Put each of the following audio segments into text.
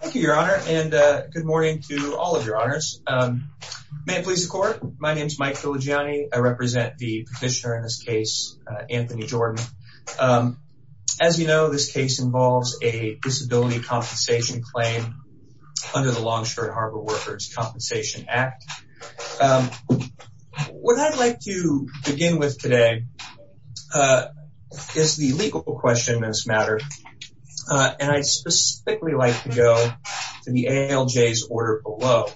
Thank you, Your Honor, and good morning to all of Your Honors. May it please the court, my name is Mike Filigiani. I represent the petitioner in this case, Anthony Jordan. As you know, this case involves a disability compensation claim under the Longshore Harbor Workers' Compensation Act. What I'd like to begin with today is the legal question in this matter, and I'd specifically like to go to the ALJ's order below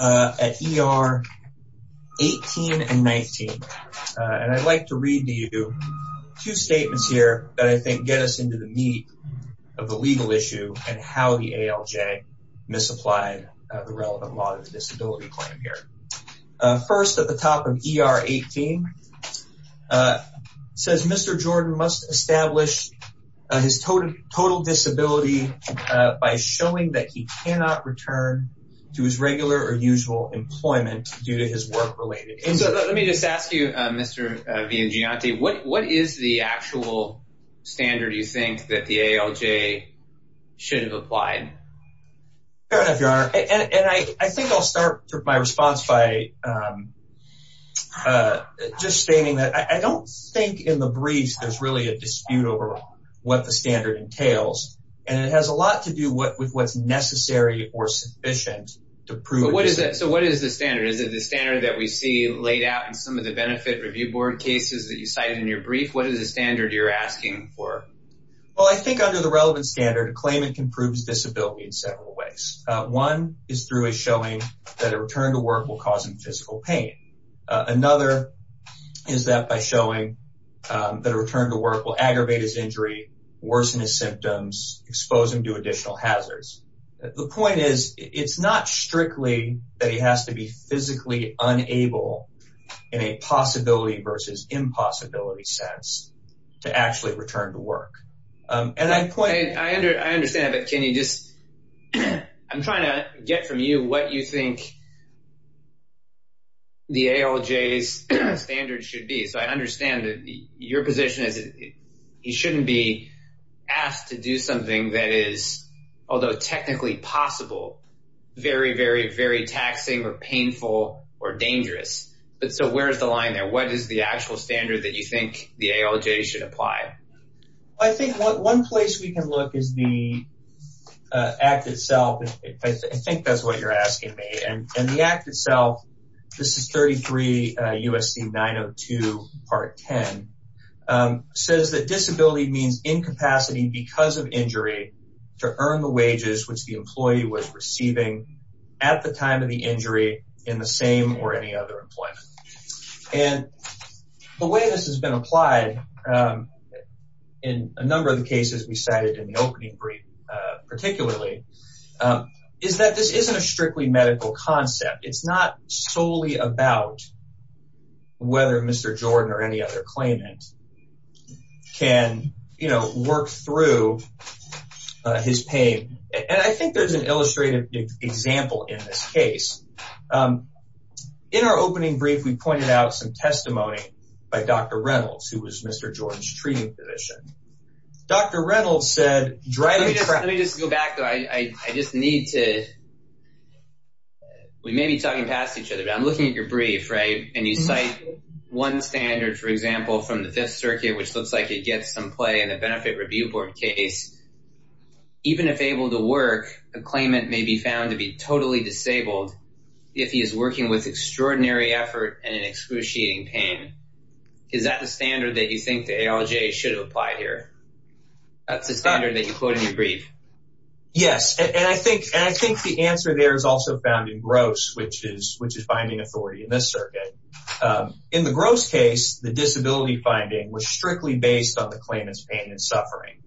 at ER 18 and 19. And I'd like to read to you two statements here that I think get us into the meat of the legal issue and how the ALJ misapplied the relevant law to the disability claim here. First, at the top of ER 18, it says, Mr. Jordan must establish his total disability by showing that he cannot return to his regular or usual employment due to his work-related issues. So let me just ask you, Mr. Villagianti, what is the actual standard you think that the ALJ should have applied? Fair enough, Your Honor, and I think I'll start my response by just stating that I don't think in the briefs there's really a dispute over what the standard entails. And it has a lot to do with what's necessary or sufficient to prove disability. So what is the standard? Is it the standard that we see laid out in some of the benefit review board cases that you cited in your brief? What is the standard you're asking for? Well, I think under the relevant standard, a claimant can prove his disability in several ways. One is through a showing that a return to work will cause him physical pain. Another is that by showing that a return to work will aggravate his injury, worsen his symptoms, expose him to additional hazards. The point is, it's not strictly that he has to be physically unable in a possibility versus impossibility sense to actually return to work. And I understand, but can you just – I'm trying to get from you what you think the ALJ's standard should be. So I understand that your position is that he shouldn't be asked to do something that is, although technically possible, very, very, very taxing or painful or dangerous. But so where is the line there? What is the actual standard that you think the ALJ should apply? I think one place we can look is the Act itself. I think that's what you're asking me. And the Act itself, this is 33 U.S.C. 902 Part 10, says that disability means incapacity because of injury to earn the wages which the employee was receiving at the time of the injury in the same or any other employment. And the way this has been applied in a number of the cases we cited in the opening brief particularly is that this isn't a strictly medical concept. It's not solely about whether Mr. Jordan or any other claimant can work through his pain. And I think there's an illustrative example in this case. In our opening brief, we pointed out some testimony by Dr. Reynolds, who was Mr. Jordan's treating physician. Dr. Reynolds said – Let me just go back, though. I just need to – we may be talking past each other, but I'm looking at your brief, right? And you cite one standard, for example, from the Fifth Circuit, which looks like it gets some play in the Benefit Review Board case. Even if able to work, a claimant may be found to be totally disabled if he is working with extraordinary effort and excruciating pain. Is that the standard that you think the ALJ should apply here? That's the standard that you quote in your brief. Yes, and I think the answer there is also found in GROSS, which is finding authority in this circuit. In the GROSS case, the disability finding was strictly based on the claimant's pain and suffering.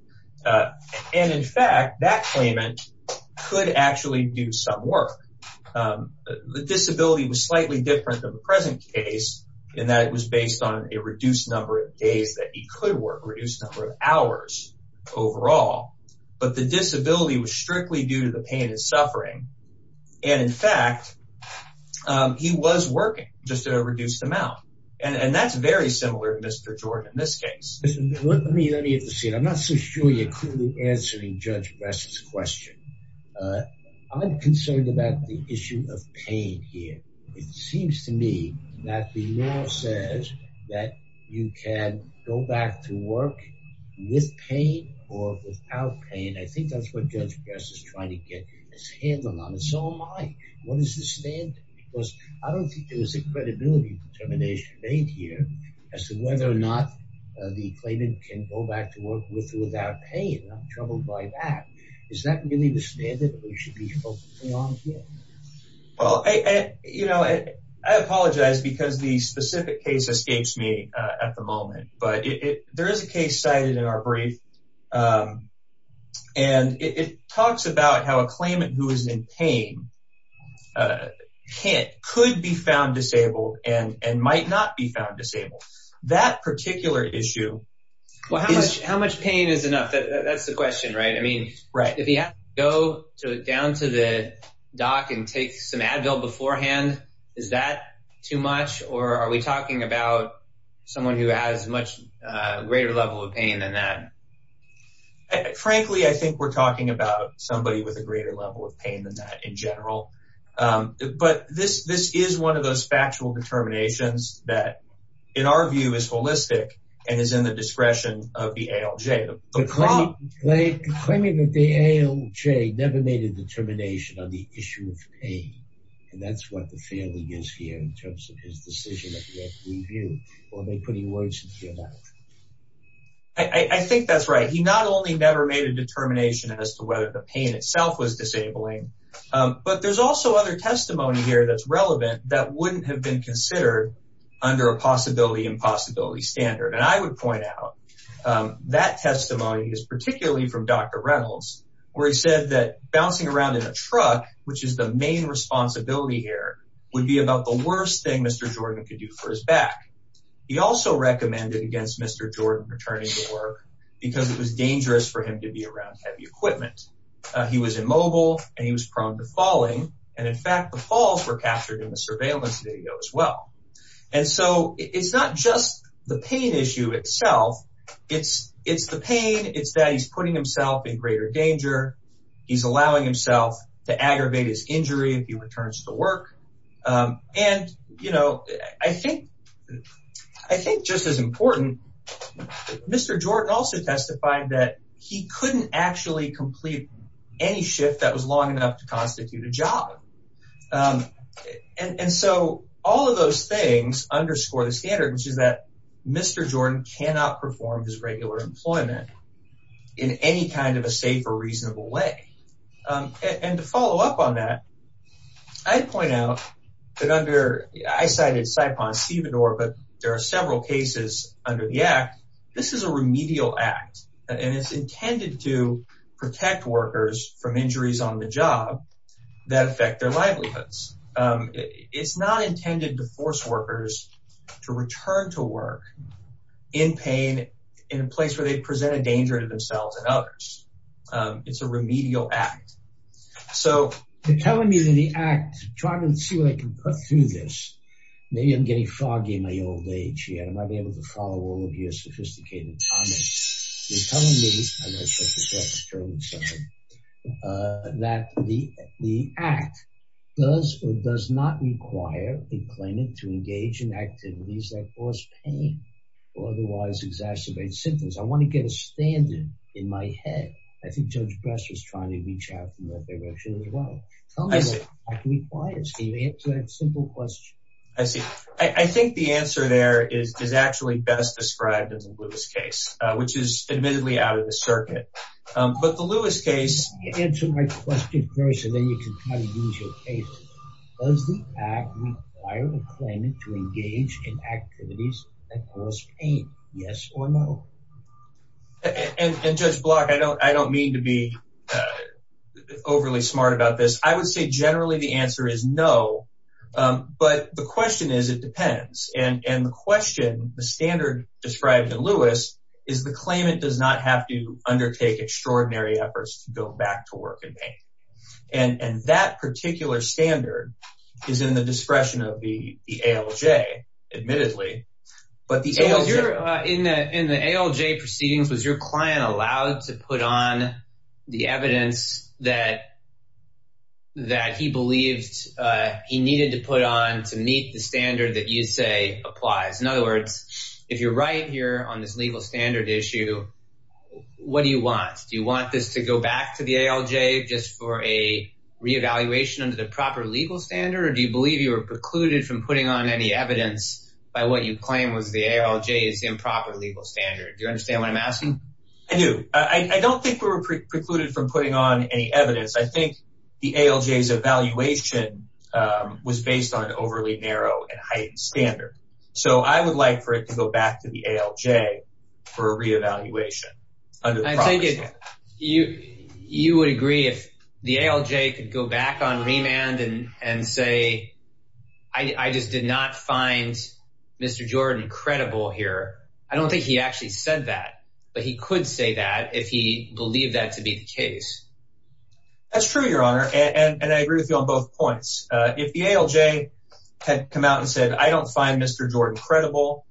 And in fact, that claimant could actually do some work. The disability was slightly different than the present case in that it was based on a reduced number of days that he could work, reduced number of hours overall. But the disability was strictly due to the pain and suffering. And in fact, he was working, just at a reduced amount. And that's very similar to Mr. Jordan in this case. Let me intercede. I'm not so sure you're clearly answering Judge Bress's question. I'm concerned about the issue of pain here. It seems to me that the law says that you can go back to work with pain or without pain. I think that's what Judge Bress is trying to get his hands on. And so am I. What is the standard? Because I don't think there is a credibility determination made here as to whether or not the claimant can go back to work with or without pain. I'm troubled by that. Is that really the standard that we should be focusing on here? Well, you know, I apologize because the specific case escapes me at the moment. But there is a case cited in our brief, and it talks about how a claimant who is in pain could be found disabled and might not be found disabled. That particular issue. Well, how much pain is enough? That's the question, right? If he has to go down to the doc and take some Advil beforehand, is that too much? Or are we talking about someone who has a much greater level of pain than that? Frankly, I think we're talking about somebody with a greater level of pain than that in general. But this is one of those factual determinations that, in our view, is holistic and is in the discretion of the ALJ. The claimant at the ALJ never made a determination on the issue of pain. And that's what the failing is here in terms of his decision at the review. Or am I putting words in your mouth? I think that's right. He not only never made a determination as to whether the pain itself was disabling, but there's also other testimony here that's relevant that wouldn't have been considered under a possibility-impossibility standard. And I would point out that testimony is particularly from Dr. Reynolds, where he said that bouncing around in a truck, which is the main responsibility here, would be about the worst thing Mr. Jordan could do for his back. He also recommended against Mr. Jordan returning to work because it was dangerous for him to be around heavy equipment. He was immobile and he was prone to falling. And, in fact, the falls were captured in the surveillance video as well. And so it's not just the pain issue itself. It's the pain. It's that he's putting himself in greater danger. He's allowing himself to aggravate his injury if he returns to work. And, you know, I think just as important, Mr. Jordan also testified that he couldn't actually complete any shift that was long enough to constitute a job. And so all of those things underscore the standard, which is that Mr. Jordan cannot perform his regular employment in any kind of a safe or reasonable way. And to follow up on that, I'd point out that under – I cited SIPON-CBIDOR, but there are several cases under the act. This is a remedial act, and it's intended to protect workers from injuries on the job that affect their livelihoods. It's not intended to force workers to return to work in pain in a place where they present a danger to themselves and others. It's a remedial act. So they're telling me that the act – I'm trying to see what I can put through this. Maybe I'm getting foggy in my old age here. I might be able to follow all of your sophisticated comments. They're telling me that the act does or does not require a claimant to engage in activities that cause pain or otherwise exacerbate symptoms. I want to get a standard in my head. I think Judge Bress was trying to reach out in that direction as well. Tell me what the act requires. Can you answer that simple question? I see. I think the answer there is actually best described in the Lewis case, which is admittedly out of the circuit. But the Lewis case – Answer my question first, and then you can try to use your case. Does the act require a claimant to engage in activities that cause pain? Yes or no? And, Judge Block, I don't mean to be overly smart about this. I would say generally the answer is no. But the question is it depends. And the question, the standard described in Lewis is the claimant does not have to undertake extraordinary efforts to go back to work in pain. And that particular standard is in the discretion of the ALJ, admittedly. In the ALJ proceedings, was your client allowed to put on the evidence that he believed he needed to put on to meet the standard that you say applies? In other words, if you're right here on this legal standard issue, what do you want? Do you want this to go back to the ALJ just for a reevaluation under the proper legal standard? Or do you believe you were precluded from putting on any evidence by what you claim was the ALJ's improper legal standard? Do you understand what I'm asking? I do. I don't think we were precluded from putting on any evidence. I think the ALJ's evaluation was based on an overly narrow and heightened standard. So I would like for it to go back to the ALJ for a reevaluation under the proper standard. I think you would agree if the ALJ could go back on remand and say, I just did not find Mr. Jordan credible here. I don't think he actually said that, but he could say that if he believed that to be the case. That's true, Your Honor. And I agree with you on both points. If the ALJ had come out and said, I don't find Mr. Jordan credible,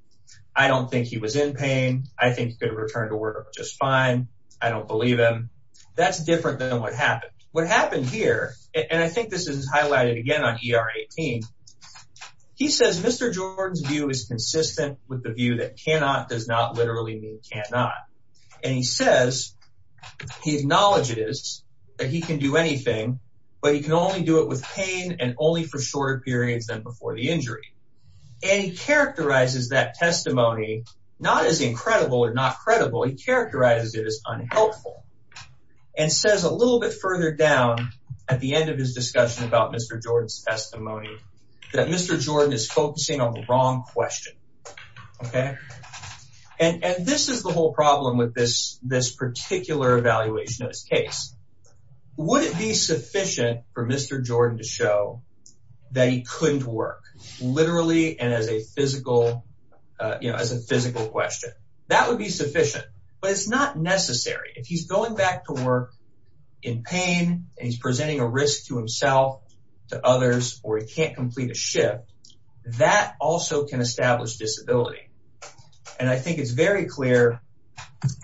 I don't think he was in pain. I think he could have returned to work just fine. I don't believe him. That's different than what happened. What happened here, and I think this is highlighted again on ER 18, he says Mr. Jordan's view is consistent with the view that cannot does not literally mean cannot. And he says, he acknowledges that he can do anything, but he can only do it with pain and only for shorter periods than before the injury. And he characterizes that testimony not as incredible or not credible. He characterizes it as unhelpful and says a little bit further down at the end of his discussion about Mr. Jordan's testimony that Mr. Jordan is focusing on the wrong question. And this is the whole problem with this particular evaluation of his case. Would it be sufficient for Mr. Jordan to show that he couldn't work, literally and as a physical question? That would be sufficient, but it's not necessary. If he's going back to work in pain and he's presenting a risk to himself, to others, or he can't complete a shift, that also can establish disability. And I think it's very clear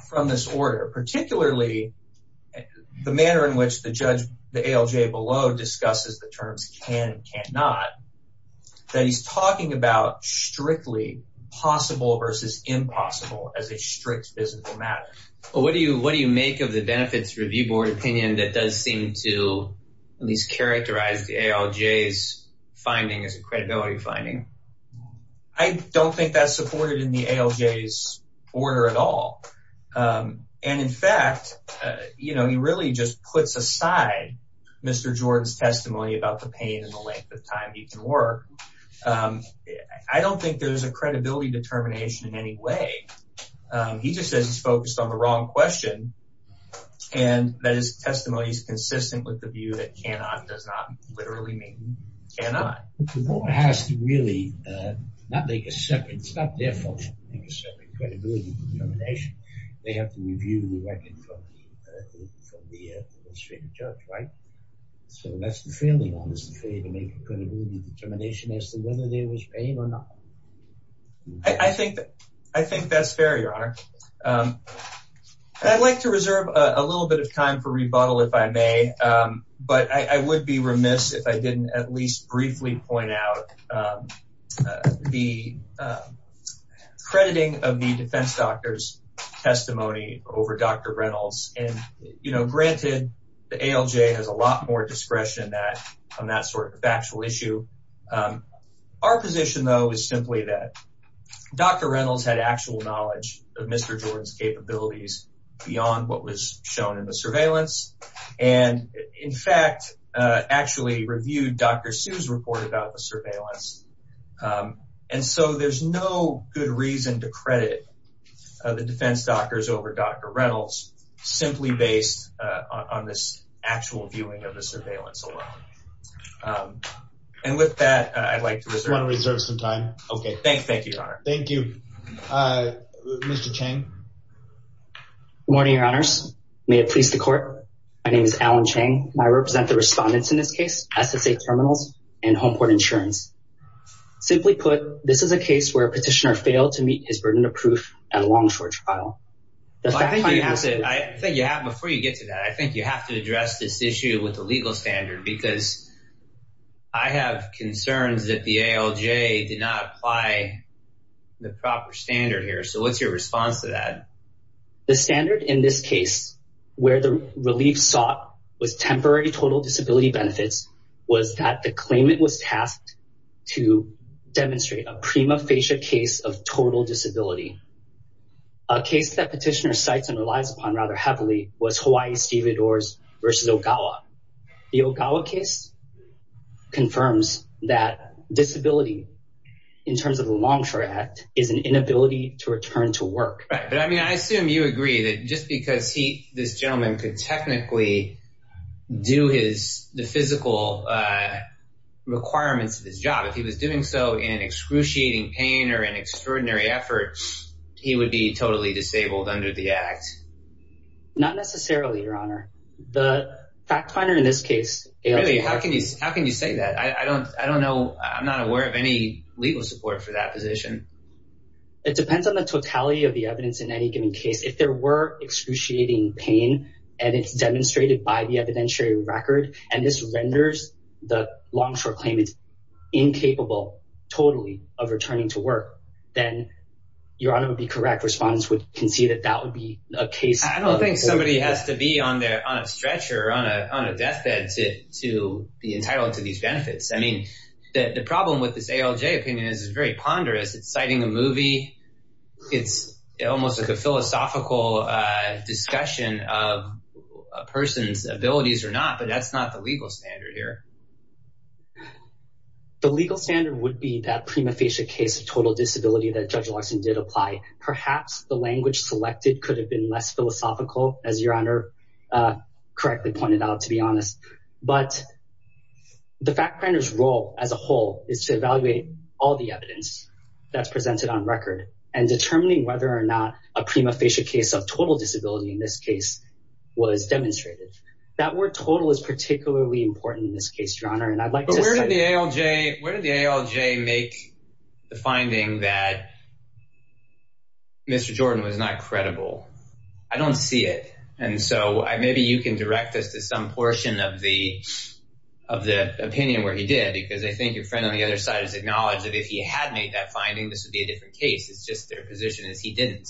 from this order, particularly the manner in which the judge, the ALJ below, discusses the terms can and cannot, that he's talking about strictly possible versus impossible as a strict physical matter. What do you make of the benefits review board opinion that does seem to at least characterize the ALJ's finding as a credibility finding? I don't think that's supported in the ALJ's order at all. And in fact, you know, he really just puts aside Mr. Jordan's testimony about the pain and the length of time he can work. I don't think there's a credibility determination in any way. He just says he's focused on the wrong question and that his testimony is consistent with the view that cannot does not literally mean cannot. The board has to really not make a separate, it's not their fault to make a separate credibility determination. They have to review the record from the administrative judge, right? So that's the failing on this, to make a credibility determination as to whether there was pain or not. I think that's fair, Your Honor. I'd like to reserve a little bit of time for rebuttal, if I may. But I would be remiss if I didn't at least briefly point out the crediting of the defense doctor's testimony over Dr. Reynolds. And, you know, granted, the ALJ has a lot more discretion on that sort of factual issue. Our position, though, is simply that Dr. Reynolds had actual knowledge of Mr. Jordan's capabilities beyond what was shown in the surveillance. And, in fact, actually reviewed Dr. Sue's report about the surveillance. And so there's no good reason to credit the defense doctors over Dr. Reynolds, simply based on this actual viewing of the surveillance alone. And with that, I'd like to reserve some time. OK, thanks. Thank you, Your Honor. Thank you. Mr. Chang. Good morning, Your Honors. May it please the court. My name is Alan Chang. I represent the respondents in this case, SSA Terminals and Home Court Insurance. Simply put, this is a case where a petitioner failed to meet his burden of proof at a long, short trial. Before you get to that, I think you have to address this issue with the legal standard, because I have concerns that the ALJ did not apply the proper standard here. So what's your response to that? The standard in this case, where the relief sought was temporary total disability benefits, was that the claimant was tasked to demonstrate a prima facie case of total disability. A case that petitioner cites and relies upon rather heavily was Hawaii-Steve Adores v. Ogawa. The Ogawa case confirms that disability, in terms of a long, short act, is an inability to return to work. Right. But, I mean, I assume you agree that just because this gentleman could technically do the physical requirements of his job, if he was doing so in excruciating pain or in extraordinary effort, he would be totally disabled under the act. Not necessarily, Your Honor. The fact finder in this case, ALJ... Really? How can you say that? I don't know. I'm not aware of any legal support for that position. It depends on the totality of the evidence in any given case. If there were excruciating pain, and it's demonstrated by the evidentiary record, and this renders the long, short claimant incapable, totally, of returning to work, then Your Honor would be correct. Respondents can see that that would be a case... I don't think somebody has to be on a stretcher, on a deathbed, to be entitled to these benefits. I mean, the problem with this ALJ opinion is it's very ponderous. It's citing a movie. It's almost like a philosophical discussion of a person's abilities or not, but that's not the legal standard here. The legal standard would be that prima facie case of total disability that Judge Larson did apply. Perhaps the language selected could have been less philosophical, as Your Honor correctly pointed out, to be honest. But the fact finder's role as a whole is to evaluate all the evidence that's presented on record and determining whether or not a prima facie case of total disability in this case was demonstrated. That word total is particularly important in this case, Your Honor. But where did the ALJ make the finding that Mr. Jordan was not credible? I don't see it. And so maybe you can direct us to some portion of the opinion where he did, because I think your friend on the other side has acknowledged that if he had made that finding, this would be a different case. It's just their position is he didn't.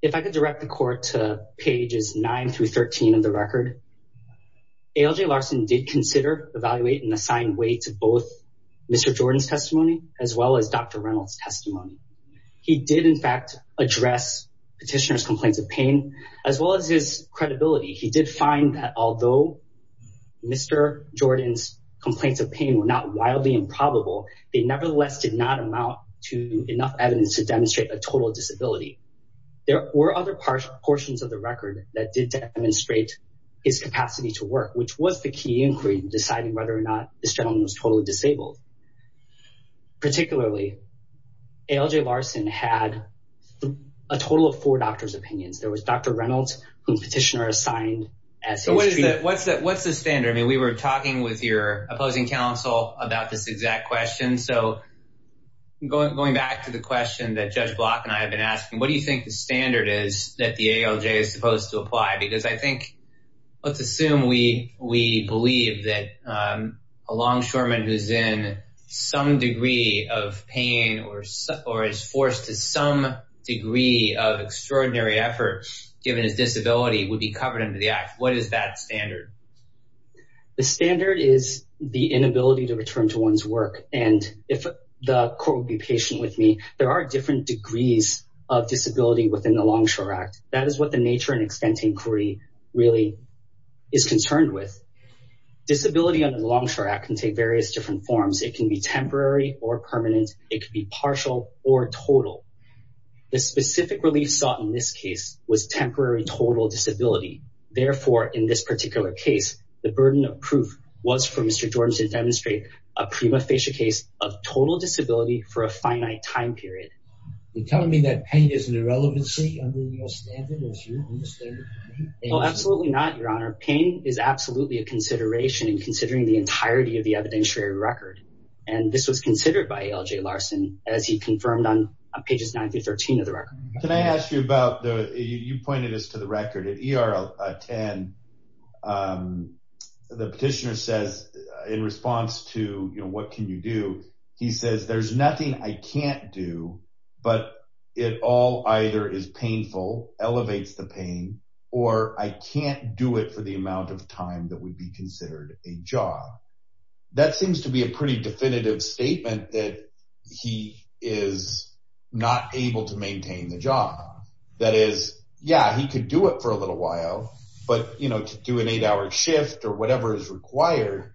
If I could direct the court to pages 9 through 13 of the record, ALJ Larson did consider, evaluate, and assign weight to both Mr. Jordan's testimony as well as Dr. Reynolds' testimony. He did in fact address petitioner's complaints of pain as well as his credibility. He did find that although Mr. Jordan's complaints of pain were not wildly improbable, they nevertheless did not amount to enough evidence to demonstrate a total disability. There were other portions of the record that did demonstrate his capacity to work, which was the key inquiry in deciding whether or not this gentleman was totally disabled. Particularly, ALJ Larson had a total of four doctors' opinions. There was Dr. Reynolds, whose petitioner assigned as his treatment. What's the standard? I mean, we were talking with your opposing counsel about this exact question. Going back to the question that Judge Block and I have been asking, what do you think the standard is that the ALJ is supposed to apply? Let's assume we believe that a longshoreman who's in some degree of pain or is forced to some degree of extraordinary effort, given his disability, would be covered under the act. What is that standard? The standard is the inability to return to one's work. And if the court would be patient with me, there are different degrees of disability within the Longshore Act. That is what the nature and extent inquiry really is concerned with. Disability under the Longshore Act can take various different forms. It can be temporary or permanent. It could be partial or total. The specific relief sought in this case was temporary total disability. Therefore, in this particular case, the burden of proof was for Mr. Jordan to demonstrate a prima facie case of total disability for a finite time period. You're telling me that pain is an irrelevancy under your standard? Absolutely not, Your Honor. Pain is absolutely a consideration in considering the entirety of the evidentiary record. And this was considered by ALJ Larson as he confirmed on pages 9 through 13 of the record. Can I ask you about, you pointed this to the record, at ER 10, the petitioner says, in response to, you know, what can you do, he says, there's nothing I can't do, but it all either is painful, elevates the pain, or I can't do it for the amount of time that would be considered a job. That seems to be a pretty definitive statement that he is not able to maintain the job. That is, yeah, he could do it for a little while, but, you know, to do an eight-hour shift or whatever is required,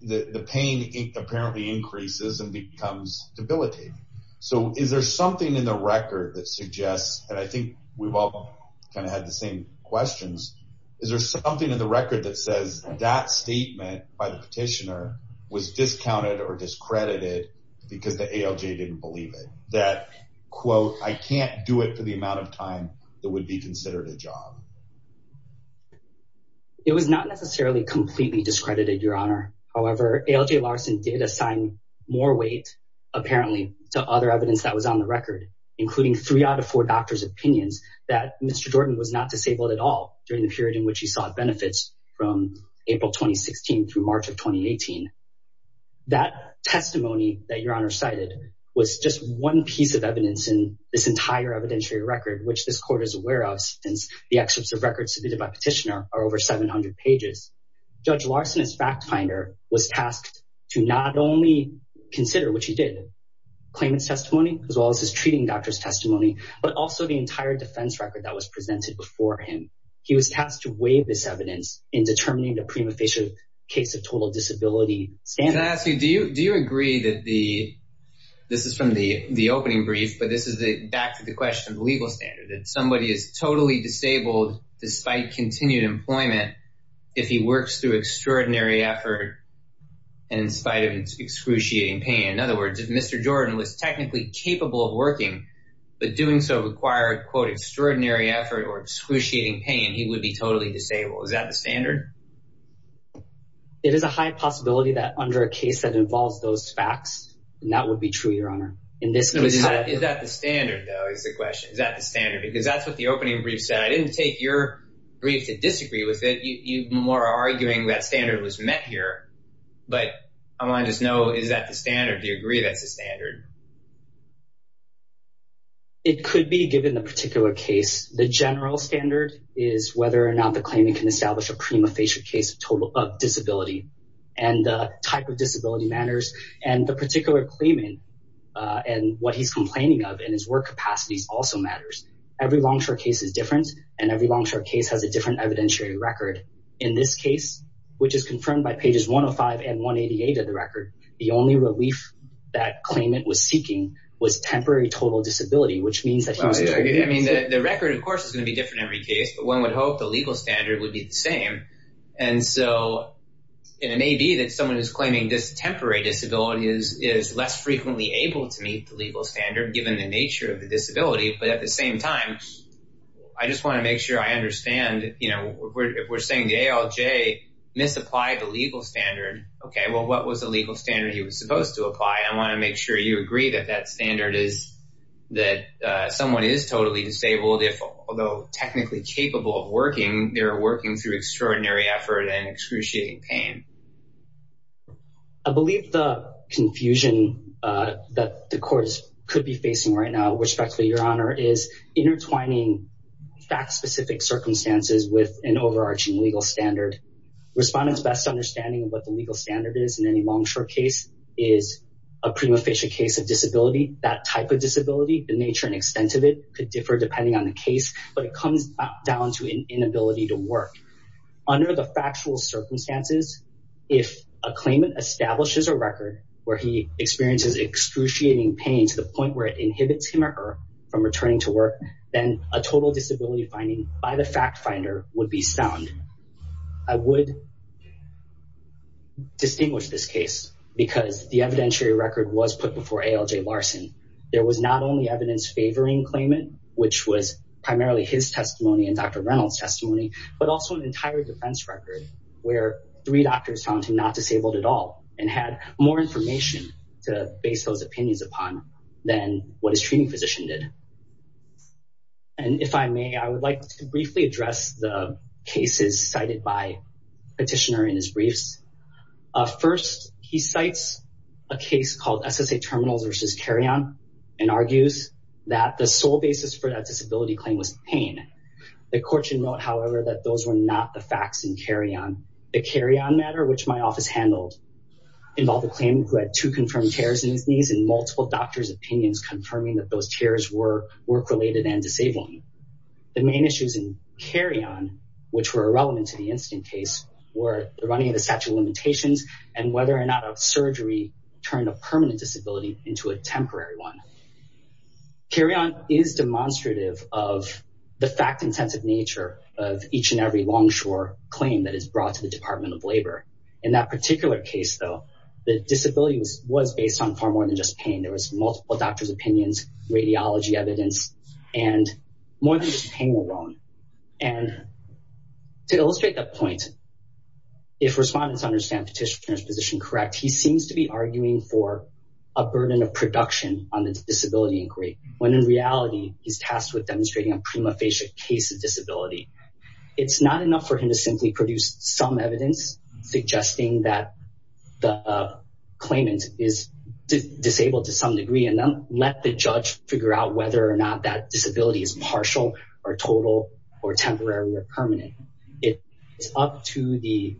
the pain apparently increases and becomes debilitating. So is there something in the record that suggests, and I think we've all kind of had the same questions, is there something in the record that says that statement by the petitioner was discounted or discredited because the ALJ didn't believe it? That, quote, I can't do it for the amount of time that would be considered a job. It was not necessarily completely discredited, Your Honor. However, ALJ Larson did assign more weight, apparently, to other evidence that was on the record, including three out of four doctors' opinions that Mr. Jordan was not disabled at all during the period in which he sought benefits from April 2016 through March of 2018. That testimony that Your Honor cited was just one piece of evidence in this entire evidentiary record, which this court is aware of since the excerpts of records submitted by petitioner are over 700 pages. Judge Larson, as fact finder, was tasked to not only consider, which he did, claimant's testimony, as well as his treating doctor's testimony, but also the entire defense record that was presented before him. He was tasked to weigh this evidence in determining the prima facie case of total disability standard. Can I ask you, do you agree that the, this is from the opening brief, but this is back to the question of the legal standard, that somebody is totally disabled despite continued employment if he works through extraordinary effort and in spite of excruciating pain? In other words, if Mr. Jordan was technically capable of working, but doing so required, quote, extraordinary effort or excruciating pain, he would be totally disabled. Is that the standard? It is a high possibility that under a case that involves those facts, and that would be true, Your Honor. Is that the standard, though, is the question. Is that the standard? Because that's what the opening brief said. I didn't take your brief to disagree with it. You're more arguing that standard was met here. But I want to just know, is that the standard? Do you agree that's the standard? It could be given the particular case. The general standard is whether or not the claimant can establish a prima facie case of disability and the type of disability matters and the particular claimant and what he's complaining of and his work capacities also matters. Every Longshore case is different, and every Longshore case has a different evidentiary record. In this case, which is confirmed by pages 105 and 188 of the record, the only relief that claimant was seeking was temporary total disability, which means that he was… I just want to make sure I understand, you know, we're saying the ALJ misapplied the legal standard. Okay, well, what was the legal standard he was supposed to apply? I want to make sure you agree that that standard is that someone is totally disabled if, although technically capable of working, they're working through extraordinary effort and excruciating pain. I believe the confusion that the courts could be facing right now, respectfully, Your Honor, is intertwining fact-specific circumstances with an overarching legal standard. Respondents' best understanding of what the legal standard is in any Longshore case is a prima facie case of disability, that type of disability, the nature and extent of it could differ depending on the case, but it comes down to an inability to work. Under the factual circumstances, if a claimant establishes a record where he experiences excruciating pain to the point where it inhibits him or her from returning to work, then a total disability finding by the fact finder would be sound. I would distinguish this case because the evidentiary record was put before ALJ Larson. There was not only evidence favoring claimant, which was primarily his testimony and Dr. Reynolds' testimony, but also an entire defense record where three doctors found him not disabled at all and had more information to base those opinions upon than what his treating physician did. And if I may, I would like to briefly address the cases cited by Petitioner in his briefs. First, he cites a case called SSA Terminals v. Carrion and argues that the sole basis for that disability claim was pain. The court should note, however, that those were not the facts in Carrion. The Carrion matter, which my office handled, involved a claimant who had two confirmed tears in his knees and multiple doctors' opinions confirming that those tears were work-related and disabling. The main issues in Carrion, which were irrelevant to the incident case, were the running of the statute of limitations and whether or not a surgery turned a permanent disability into a temporary one. Carrion is demonstrative of the fact-intensive nature of each and every longshore claim that is brought to the Department of Labor. In that particular case, though, the disability was based on far more than just pain. There was multiple doctors' opinions, radiology evidence, and more than just pain alone. And to illustrate that point, if respondents understand Petitioner's position correct, he seems to be arguing for a burden of production on the disability inquiry, when in reality, he's tasked with demonstrating a prima facie case of disability. It's not enough for him to simply produce some evidence suggesting that the claimant is disabled to some degree and then let the judge figure out whether or not that disability is partial or total or temporary or permanent. It is up to the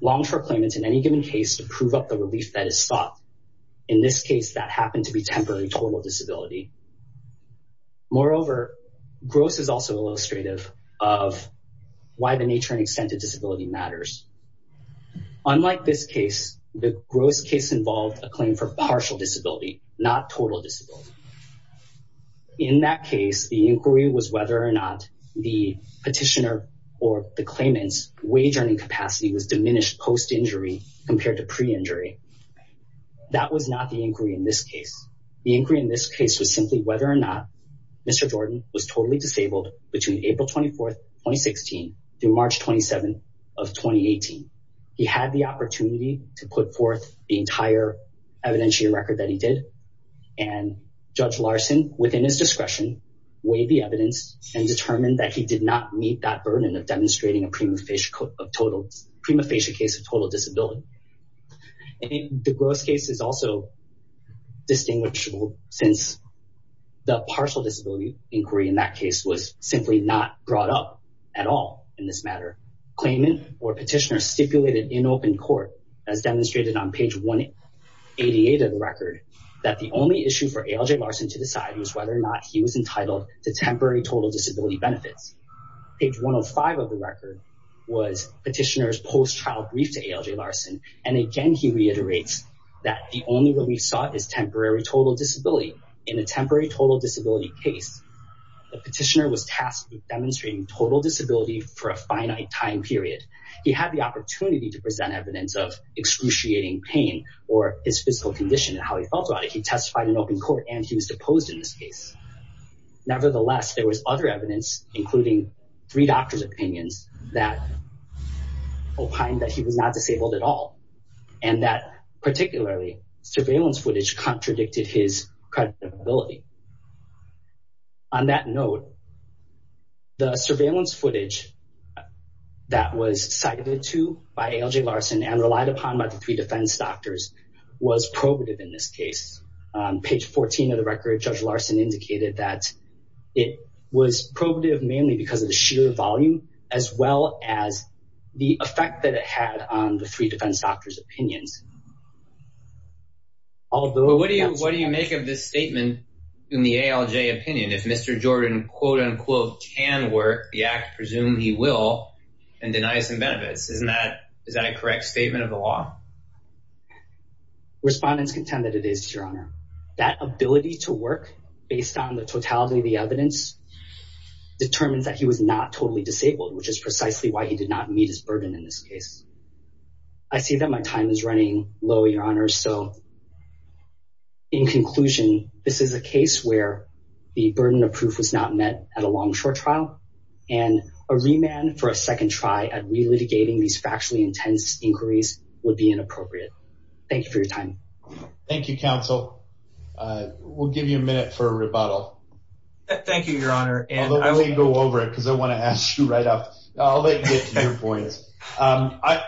longshore claimant in any given case to prove up the relief that is sought. In this case, that happened to be temporary total disability. Moreover, Gross is also illustrative of why the nature and extent of disability matters. Unlike this case, the Gross case involved a claim for partial disability, not total disability. In that case, the inquiry was whether or not the Petitioner or the claimant's wage earning capacity was diminished post-injury compared to pre-injury. That was not the inquiry in this case. The inquiry in this case was simply whether or not Mr. Jordan was totally disabled between April 24th, 2016 through March 27th of 2018. He had the opportunity to put forth the entire evidentiary record that he did, and Judge Larson, within his discretion, weighed the evidence and determined that he did not meet that burden of demonstrating a prima facie case of total disability. The Gross case is also distinguishable since the partial disability inquiry in that case was simply not brought up at all in this matter. Claimant or Petitioner stipulated in open court, as demonstrated on page 188 of the record, that the only issue for ALJ Larson to decide was whether or not he was entitled to temporary total disability benefits. Page 105 of the record was Petitioner's post-trial brief to ALJ Larson, and again he reiterates that the only relief sought is temporary total disability. In a temporary total disability case, the Petitioner was tasked with demonstrating total disability for a finite time period. He had the opportunity to present evidence of excruciating pain or his physical condition and how he felt about it. He testified in open court and he was deposed in this case. Nevertheless, there was other evidence, including three doctor's opinions that opined that he was not disabled at all, and that particularly surveillance footage contradicted his credibility. On that note, the surveillance footage that was cited to by ALJ Larson and relied upon by the three defense doctors was probative in this case. On page 14 of the record, Judge Larson indicated that it was probative mainly because of the sheer volume as well as the effect that it had on the three defense doctors' opinions. What do you make of this statement in the ALJ opinion? If Mr. Jordan quote-unquote can work, the act presumes he will and denies him benefits. Is that a correct statement of the law? Respondents contend that it is, Your Honor. That ability to work based on the totality of the evidence determines that he was not totally disabled, which is precisely why he did not meet his burden in this case. I see that my time is running low, Your Honor, so in conclusion, this is a case where the burden of proof was not met at a long-short trial, and a remand for a second try at relitigating these factually intense inquiries would be inappropriate. Thank you for your time. Thank you, counsel. We'll give you a minute for a rebuttal. Thank you, Your Honor. I'll let you go over it because I want to ask you right off. I'll let you get to your points. I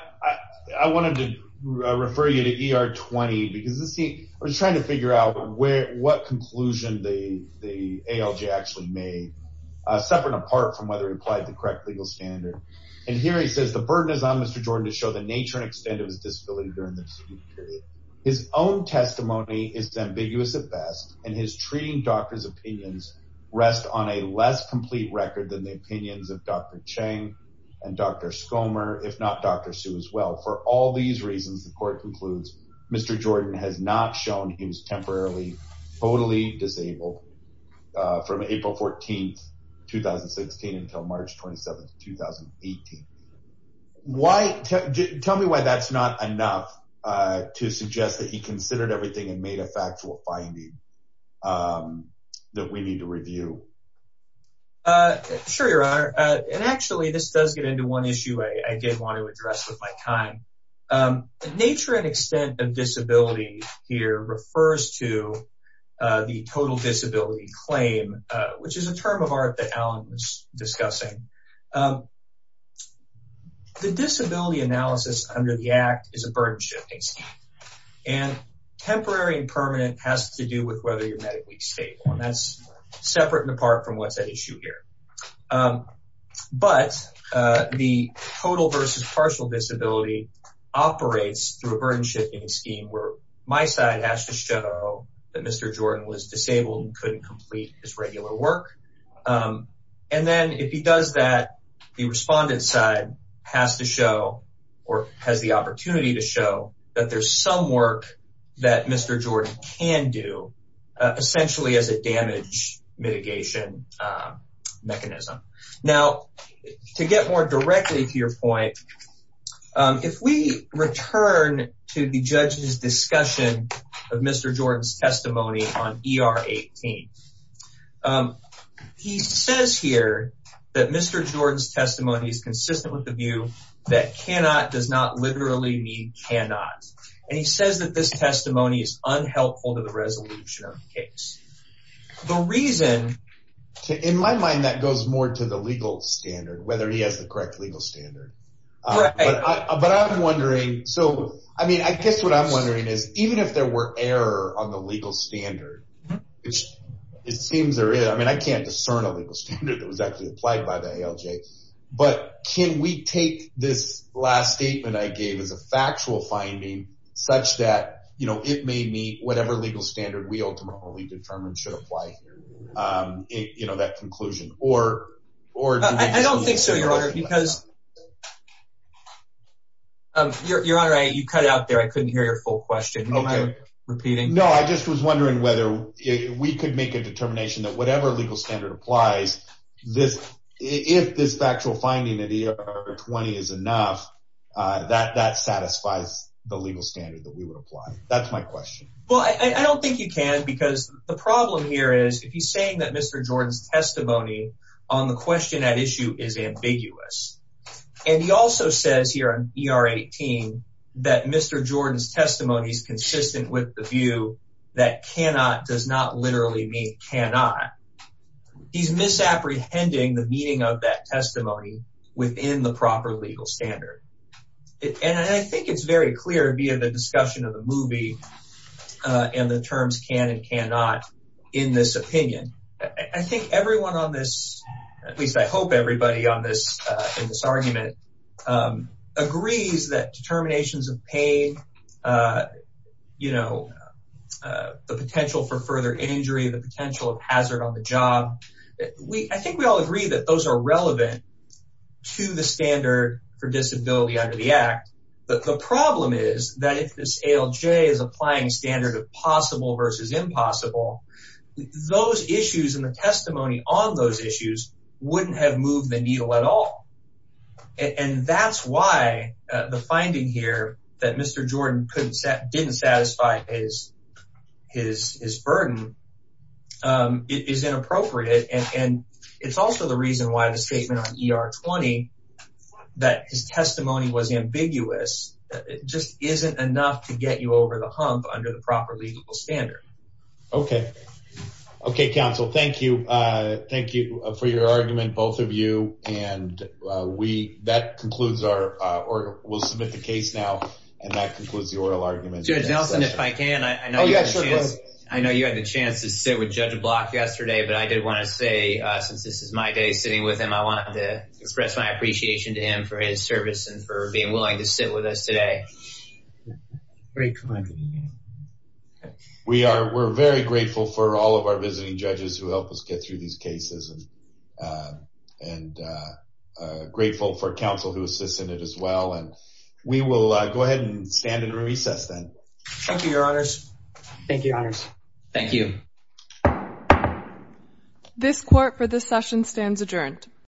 wanted to refer you to ER-20 because I was trying to figure out what conclusion the ALJ actually made, separate and apart from whether it applied to the correct legal standard. And here he says, the burden is on Mr. Jordan to show the nature and extent of his disability during the dispute period. His own testimony is ambiguous at best, and his treating doctor's opinions rest on a less complete record than the opinions of Dr. Cheng and Dr. Schomer, if not Dr. Hsu as well. For all these reasons, the court concludes Mr. Jordan has not shown he was temporarily, totally disabled from April 14, 2016 until March 27, 2018. Tell me why that's not enough to suggest that he considered everything and made a factual finding that we need to review. Sure, Your Honor. And actually, this does get into one issue I did want to address with my time. The nature and extent of disability here refers to the total disability claim, which is a term of art that Alan was discussing. The disability analysis under the Act is a burden-shifting scheme. And temporary and permanent has to do with whether you're medically stable, and that's separate and apart from what's at issue here. But the total versus partial disability operates through a burden-shifting scheme where my side has to show that Mr. Jordan was disabled and couldn't complete his regular work. And then if he does that, the respondent side has to show or has the opportunity to show that there's some work that Mr. Jordan can do, essentially as a damage mitigation mechanism. Now, to get more directly to your point, if we return to the judge's discussion of Mr. Jordan's testimony on ER 18, he says here that Mr. Jordan's testimony is consistent with the view that cannot does not literally mean cannot. And he says that this testimony is unhelpful to the resolution of the case. The reason – In my mind, that goes more to the legal standard, whether he has the correct legal standard. Right. But I'm wondering – so I mean I guess what I'm wondering is even if there were error on the legal standard, it seems there is. You know, that conclusion or – I don't think so, Your Honor, because – Your Honor, you cut out there. I couldn't hear your full question. Oh, my – Repeating. No, I just was wondering whether we could make a determination that whatever legal standard applies, if this factual finding of ER 20 is enough, that satisfies the legal standard that we would apply. That's my question. Well, I don't think you can because the problem here is if he's saying that Mr. Jordan's testimony on the question at issue is ambiguous, and he also says here on ER 18 that Mr. Jordan's testimony is consistent with the view that cannot does not literally mean cannot, he's misapprehending the meaning of that testimony within the proper legal standard. And I think it's very clear via the discussion of the movie and the terms can and cannot in this opinion. I think everyone on this – at least I hope everybody on this – in this argument agrees that determinations of pain, you know, the potential for further injury, the potential of hazard on the job, I think we all agree that those are relevant to the standard for disability under the Act. But the problem is that if this ALJ is applying standard of possible versus impossible, those issues and the testimony on those issues wouldn't have moved the needle at all. And that's why the finding here that Mr. Jordan didn't satisfy his burden is inappropriate. And it's also the reason why the statement on ER 20 that his testimony was ambiguous just isn't enough to get you over the hump under the proper legal standard. Okay. Okay, counsel. Thank you. Thank you for your argument, both of you. And we – that concludes our – we'll submit the case now. And that concludes the oral argument. Judge Nelson, if I can, I know you had the chance to sit with Judge Block yesterday, but I did want to say since this is my day sitting with him, I wanted to express my appreciation to him for his service and for being willing to sit with us today. Great comment. We are – we're very grateful for all of our visiting judges who help us get through these cases and grateful for counsel who assists in it as well. And we will go ahead and stand and recess then. Thank you, your honors. Thank you, your honors. Thank you. This court for this session stands adjourned.